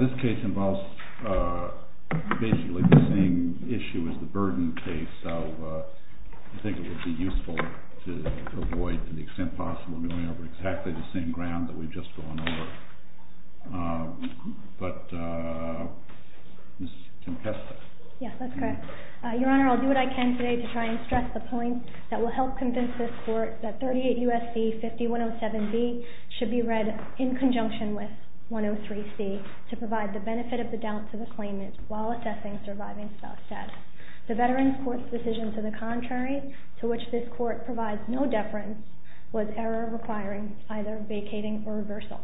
This case involves basically the same issue as the BURDEN case. So I think it would be useful to avoid, to the extent possible, going over exactly the same ground that we've just gone over. But Ms. Tempesta? MS. TEMPESTA Yes, that's correct. Your Honor, I'll do what I can today to try and stress the point that will help convince this Court that 38 U.S.C. 5107B should be read in conjunction with 103C to provide the benefit of the doubt to the claimant while assessing surviving spouse status. The Veterans Court's decision to the contrary, to which this Court provides no deference, was error requiring either vacating or reversal.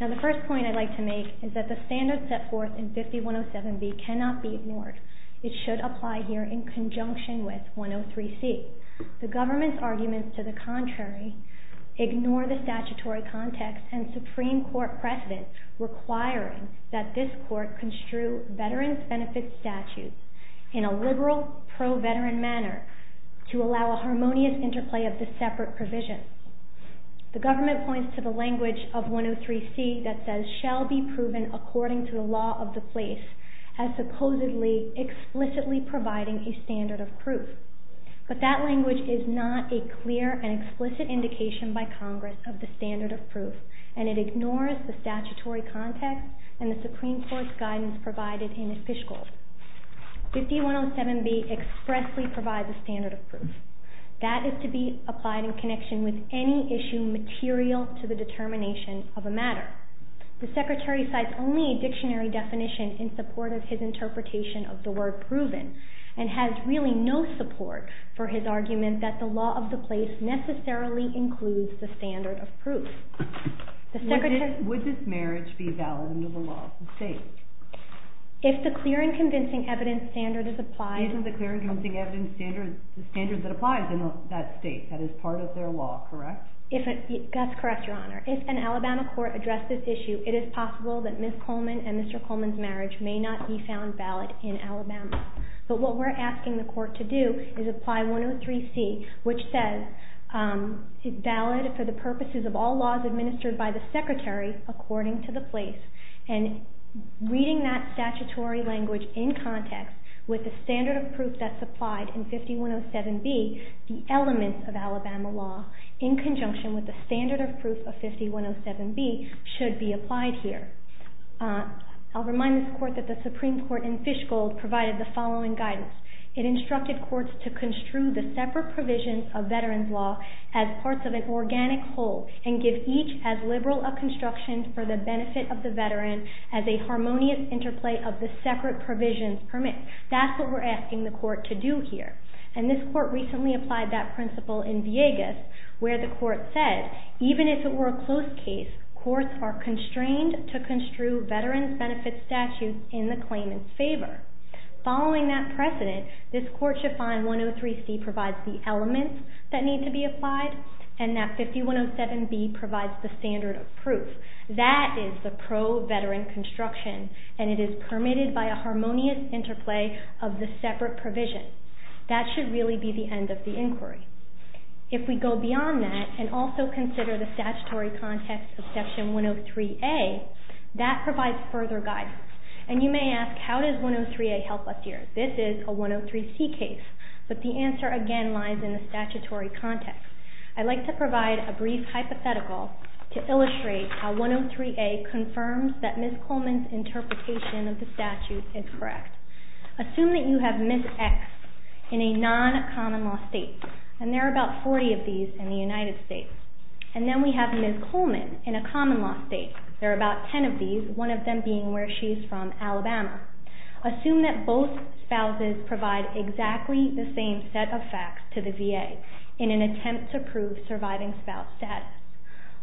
Now the first point I'd like to make is that the standard set forth in 5107B cannot be ignored. It should apply here in conjunction with 103C. The government's arguments to the contrary ignore the statutory context and Supreme Court precedent requiring that this Court construe Veterans Benefit Statutes in a liberal, pro-veteran manner to allow a harmonious interplay of the separate provisions. The government points to the language of 103C that says, according to the law of the place as supposedly explicitly providing a standard of proof. But that language is not a clear and explicit indication by Congress of the standard of proof, and it ignores the statutory context and the Supreme Court's guidance provided in its fiscal. 5107B expressly provides a standard of proof. That is to be applied in connection with any issue material to the determination of a matter. The Secretary cites only a dictionary definition in support of his interpretation of the word proven, and has really no support for his argument that the law of the place necessarily includes the standard of proof. Would this marriage be valid under the law of the state? If the clear and convincing evidence standard is applied... If the clear and convincing evidence standard is the standard that applies in that state, that is part of their law, correct? That's correct, Your Honor. If an Alabama court addressed this issue, it is possible that Ms. Coleman and Mr. Coleman's marriage may not be found valid in Alabama. But what we're asking the court to do is apply 103C, which says it's valid for the purposes of all laws administered by the Secretary according to the place, and reading that statutory language in context with the standard of proof that's applied in 5107B, the elements of Alabama law in conjunction with the standard of proof of 5107B should be applied here. I'll remind this court that the Supreme Court in Fishgold provided the following guidance. It instructed courts to construe the separate provisions of veterans' law as parts of an organic whole and give each as liberal a construction for the benefit of the veteran as a harmonious interplay of the separate provisions permit. That's what we're asking the court to do here. And this court recently applied that principle in Viegas where the court said, even if it were a closed case, courts are constrained to construe veterans' benefit statutes in the claimant's favor. Following that precedent, this court should find 103C provides the elements that need to be applied and that 5107B provides the standard of proof. That is the pro-veteran construction, and it is permitted by a harmonious interplay of the separate provisions. That should really be the end of the inquiry. If we go beyond that and also consider the statutory context of Section 103A, that provides further guidance. And you may ask, how does 103A help us here? This is a 103C case, but the answer again lies in the statutory context. I'd like to provide a brief hypothetical to illustrate how 103A confirms that Ms. Coleman's interpretation of the statute is correct. Assume that you have Ms. X in a non-common-law state, and there are about 40 of these in the United States. And then we have Ms. Coleman in a common-law state. There are about 10 of these, one of them being where she is from, Alabama. Assume that both spouses provide exactly the same set of facts to the VA in an attempt to prove surviving spouse status.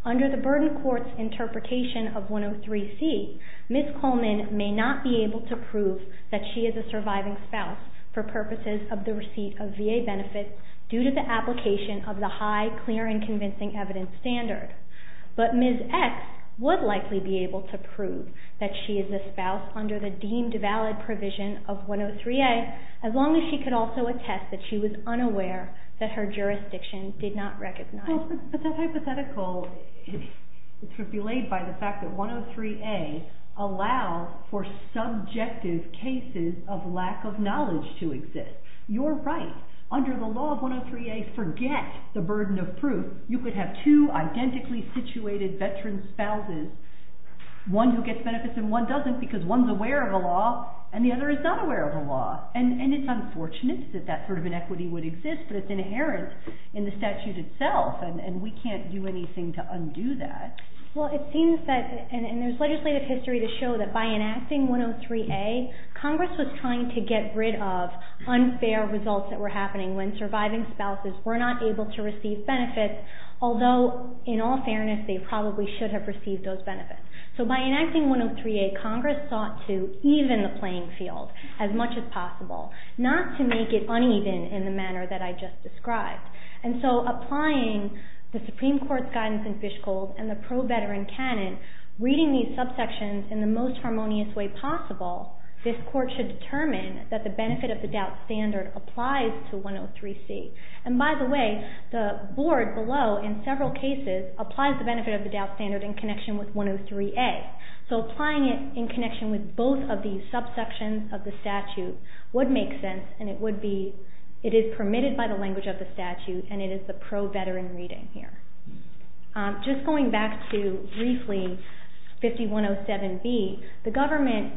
Under the Burden Court's interpretation of 103C, Ms. Coleman may not be able to prove that she is a surviving spouse for purposes of the receipt of VA benefits due to the application of the high, clear, and convincing evidence standard. But Ms. X would likely be able to prove that she is a spouse under the deemed valid provision of 103A, as long as she could also attest that she was unaware that her jurisdiction did not recognize it. But that hypothetical is belayed by the fact that 103A allows for subjective cases of lack of knowledge to exist. You're right. Under the law of 103A, forget the burden of proof. You could have two identically situated veteran spouses, one who gets benefits and one doesn't, because one's aware of the law and the other is not aware of the law. And it's unfortunate that that sort of inequity would exist, but it's inherent in the statute itself, and we can't do anything to undo that. Well, it seems that, and there's legislative history to show that by enacting 103A, Congress was trying to get rid of unfair results that were happening when surviving spouses were not able to receive benefits, although, in all fairness, they probably should have received those benefits. So by enacting 103A, Congress sought to even the playing field as much as possible, not to make it uneven in the manner that I just described. And so applying the Supreme Court's guidance in Fishcold and the pro-veteran canon, reading these subsections in the most harmonious way possible, this Court should determine that the benefit of the doubt standard applies to 103C. And by the way, the board below, in several cases, applies the benefit of the doubt standard in connection with 103A. So applying it in connection with both of these subsections of the statute would make sense, and it is permitted by the language of the statute, and it is the pro-veteran reading here. Just going back to, briefly, 5107B, the government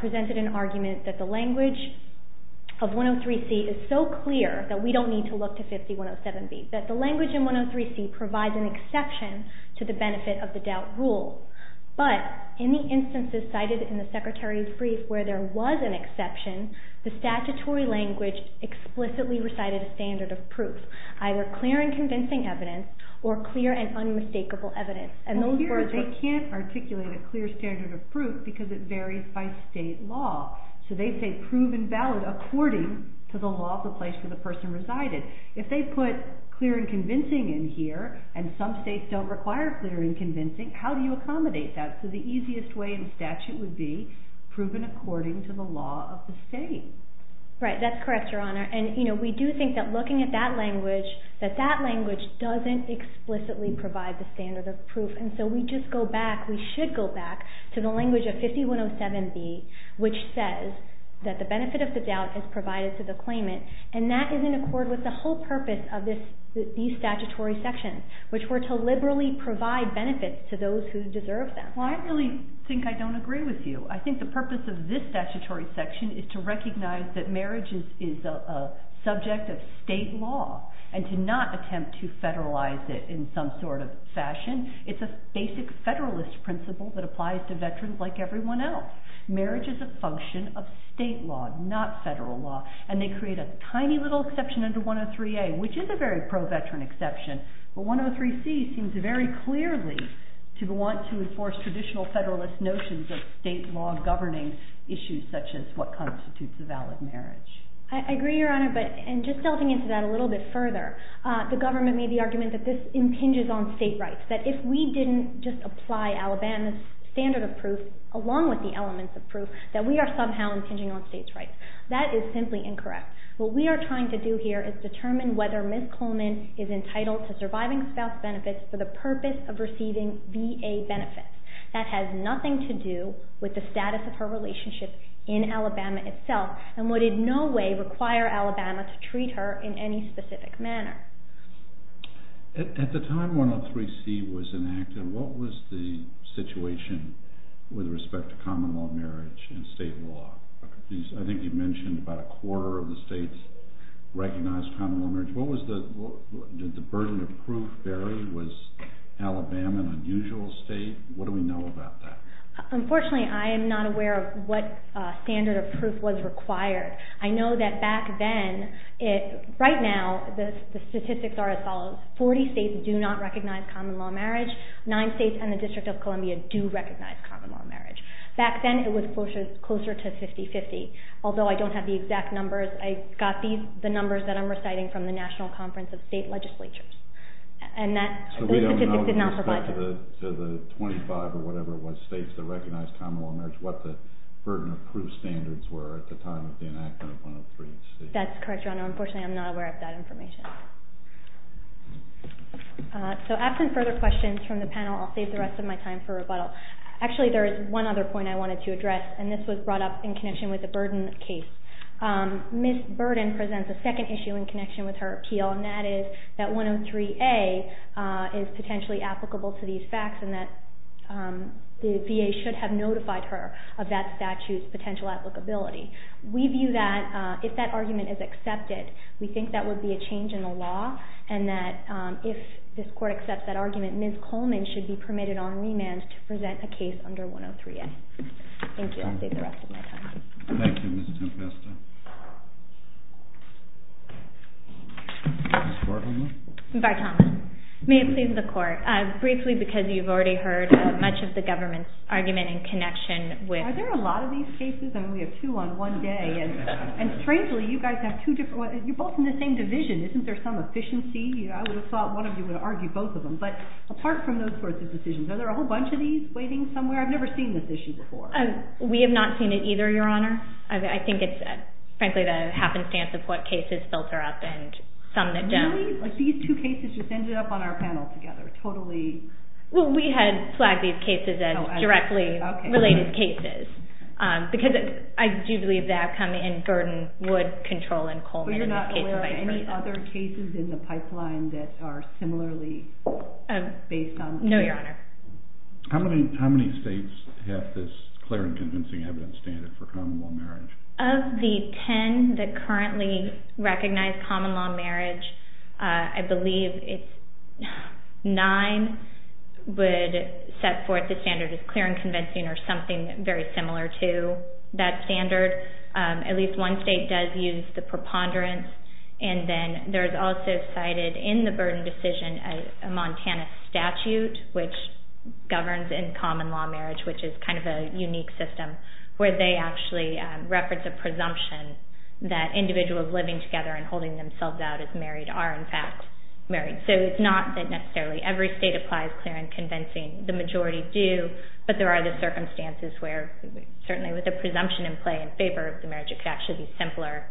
presented an argument that the language of 103C is so clear that we don't need to look to 5107B, that the language in 103C provides an exception to the benefit of the doubt rule. But in the instances cited in the Secretary's brief where there was an exception, the statutory language explicitly recited a standard of proof, either clear and convincing evidence, or clear and unmistakable evidence, and those words were— Well, here they can't articulate a clear standard of proof because it varies by state law. So they say proven valid according to the law of the place where the person resided. If they put clear and convincing in here, and some states don't require clear and convincing, how do you accommodate that? So the easiest way in the statute would be proven according to the law of the state. Right, that's correct, Your Honor. And we do think that looking at that language, that that language doesn't explicitly provide the standard of proof. And so we just go back—we should go back to the language of 5107B, which says that the benefit of the doubt is provided to the claimant, and that is in accord with the whole purpose of these statutory sections, which were to liberally provide benefits to those who deserve them. Well, I really think I don't agree with you. I think the purpose of this statutory section is to recognize that marriage is a subject of state law It's a basic federalist principle that applies to veterans like everyone else. Marriage is a function of state law, not federal law. And they create a tiny little exception under 103A, which is a very pro-veteran exception. But 103C seems very clearly to want to enforce traditional federalist notions of state law governing issues such as what constitutes a valid marriage. I agree, Your Honor. And just delving into that a little bit further, the government made the argument that this impinges on state rights, that if we didn't just apply Alabama's standard of proof, along with the elements of proof, that we are somehow impinging on states' rights. That is simply incorrect. What we are trying to do here is determine whether Ms. Coleman is entitled to surviving spouse benefits for the purpose of receiving VA benefits. That has nothing to do with the status of her relationship in Alabama itself and would in no way require Alabama to treat her in any specific manner. At the time 103C was enacted, what was the situation with respect to common-law marriage and state law? I think you mentioned about a quarter of the states recognized common-law marriage. Did the burden of proof vary? Was Alabama an unusual state? What do we know about that? Unfortunately, I am not aware of what standard of proof was required. I know that back then, right now, the statistics are as follows. Forty states do not recognize common-law marriage. Nine states and the District of Columbia do recognize common-law marriage. Back then it was closer to 50-50. Although I don't have the exact numbers, I got the numbers that I'm reciting from the National Conference of State Legislatures. So we don't know with respect to the 25 or whatever states that recognize common-law marriage what the burden of proof standards were at the time of the enactment of 103C? That's correct, Your Honor. Unfortunately, I'm not aware of that information. So absent further questions from the panel, I'll save the rest of my time for rebuttal. Actually, there is one other point I wanted to address, and this was brought up in connection with the Burden case. Ms. Burden presents a second issue in connection with her appeal, and that is that 103A is potentially applicable to these facts and that the VA should have notified her of that statute's potential applicability. We view that if that argument is accepted, we think that would be a change in the law and that if this Court accepts that argument, Ms. Coleman should be permitted on remand to present a case under 103A. Thank you. I'll save the rest of my time. Thank you, Ms. Tempesta. Ms. Barton. May it please the Court, briefly because you've already heard much of the government's argument in connection with Are there a lot of these cases? I mean, we have two on one day. And strangely, you guys have two different ones. You're both in the same division. Isn't there some efficiency? I would have thought one of you would argue both of them. But apart from those sorts of decisions, are there a whole bunch of these waiting somewhere? I've never seen this issue before. We have not seen it either, Your Honor. I think it's, frankly, the happenstance of what cases filter up and some that don't. Really? Like these two cases just ended up on our panel together, totally? Well, we had flagged these cases as directly related cases. Because I do believe the outcome in Burden would control in Coleman. But you're not aware of any other cases in the pipeline that are similarly based on… No, Your Honor. How many states have this clear and convincing evidence standard for common law marriage? Of the ten that currently recognize common law marriage, I believe nine would set forth the standard of clear and convincing or something very similar to that standard. At least one state does use the preponderance. And then there's also cited in the Burden decision a Montana statute, which governs in common law marriage, which is kind of a unique system, where they actually reference a presumption that individuals living together and holding themselves out as married are, in fact, married. So it's not that necessarily every state applies clear and convincing. The majority do, but there are the circumstances where, certainly with a presumption in play in favor of the marriage, it could actually be simpler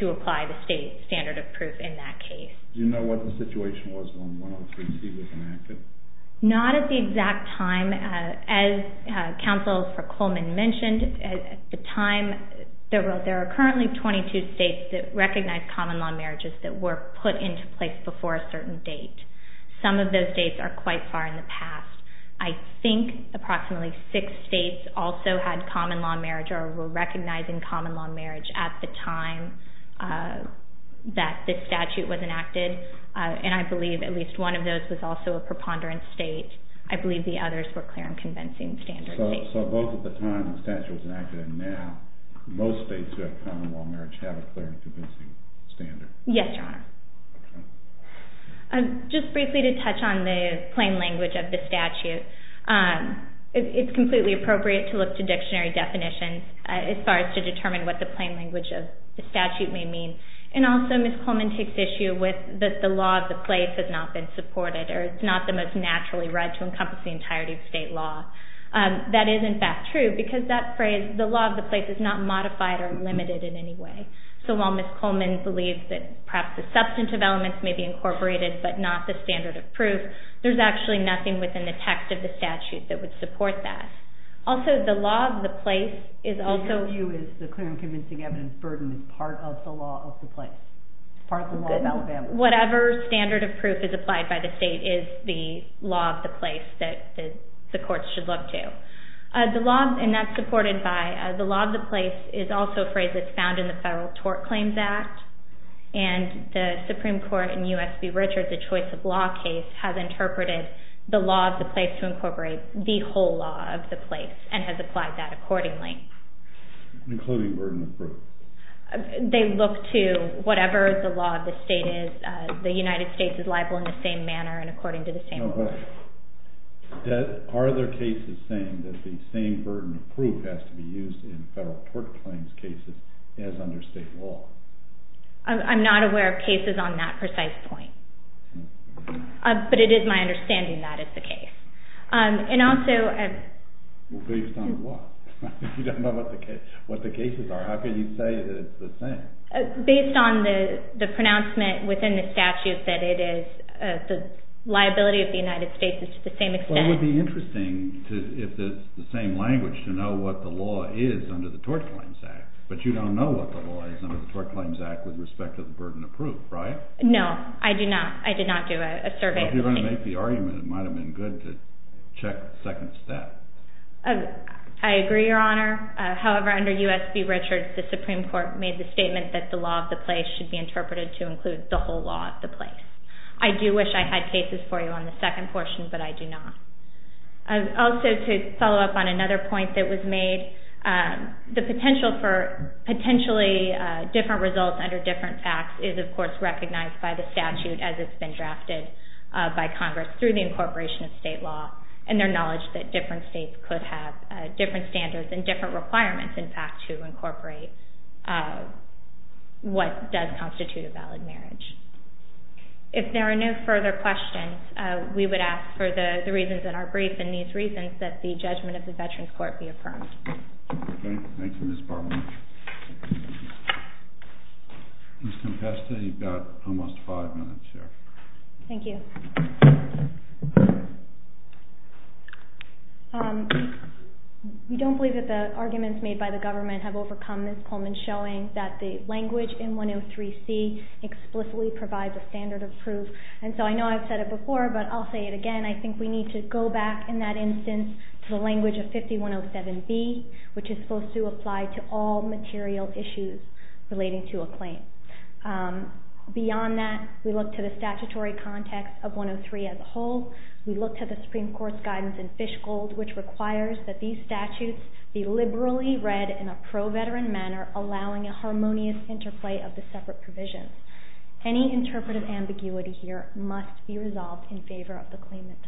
to apply the state standard of proof in that case. Do you know what the situation was when 103C was enacted? Not at the exact time. As Counsel for Coleman mentioned, at the time there are currently 22 states that recognize common law marriages that were put into place before a certain date. Some of those dates are quite far in the past. I think approximately six states also had common law marriage or were recognizing common law marriage at the time that this statute was enacted, and I believe at least one of those was also a preponderance state. I believe the others were clear and convincing standards. So both at the time the statute was enacted and now, most states who have common law marriage have a clear and convincing standard. Yes, Your Honor. Okay. Just briefly to touch on the plain language of the statute, it's completely appropriate to look to dictionary definitions as far as to determine what the plain language of the statute may mean. And also Ms. Coleman takes issue with that the law of the place has not been supported or it's not the most naturally read to encompass the entirety of state law. That is in fact true because that phrase, the law of the place is not modified or limited in any way. So while Ms. Coleman believes that perhaps the substantive elements may be incorporated but not the standard of proof, there's actually nothing within the text of the statute that would support that. Also the law of the place is also- The evidence burden is part of the law of the place. Part of the law of Alabama. Whatever standard of proof is applied by the state is the law of the place that the courts should look to. The law, and that's supported by the law of the place, is also a phrase that's found in the Federal Tort Claims Act. And the Supreme Court in U.S. v. Richards, a choice of law case has interpreted the law of the place to incorporate the whole law of the place and has applied that accordingly. Including burden of proof. They look to whatever the law of the state is. The United States is liable in the same manner and according to the same law. Are there cases saying that the same burden of proof has to be used in federal court claims cases as under state law? I'm not aware of cases on that precise point. But it is my understanding that is the case. And also- Based on what? You don't know what the cases are. How can you say that it's the same? Based on the pronouncement within the statute that it is, the liability of the United States is to the same extent. Well, it would be interesting if it's the same language to know what the law is under the Tort Claims Act. But you don't know what the law is under the Tort Claims Act with respect to the burden of proof, right? No, I do not. I did not do a survey. Well, if you're going to make the argument, it might have been good to check the second step. I agree, Your Honor. However, under U.S. v. Richards, the Supreme Court made the statement that the law of the place should be interpreted to include the whole law of the place. I do wish I had cases for you on the second portion, but I do not. Also, to follow up on another point that was made, the potential for potentially different results under different facts is, of course, recognized by the statute as it's been drafted by Congress through the incorporation of state law and their knowledge that different states could have different standards and different requirements, in fact, to incorporate what does constitute a valid marriage. If there are no further questions, we would ask for the reasons in our brief and these reasons that the judgment of the Veterans Court be affirmed. Okay. Thank you, Ms. Bartlett. Ms. Compesta, you've got almost five minutes here. Thank you. We don't believe that the arguments made by the government have overcome Ms. Coleman's showing that the language in 103C explicitly provides a standard of proof, and so I know I've said it before, but I'll say it again. I think we need to go back in that instance to the language of 5107B, which is supposed to apply to all material issues relating to a claim. Beyond that, we look to the statutory context of 103 as a whole. We look to the Supreme Court's guidance in Fishgold, which requires that these statutes be liberally read in a pro-Veteran manner, allowing a harmonious interplay of the separate provisions. Any interpretive ambiguity here must be resolved in favor of the claimant.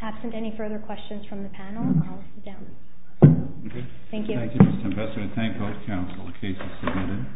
Absent any further questions from the panel, I'll sit down. Thank you. Thank you, Ms. Compesta. Thank both counsel. The case is submitted.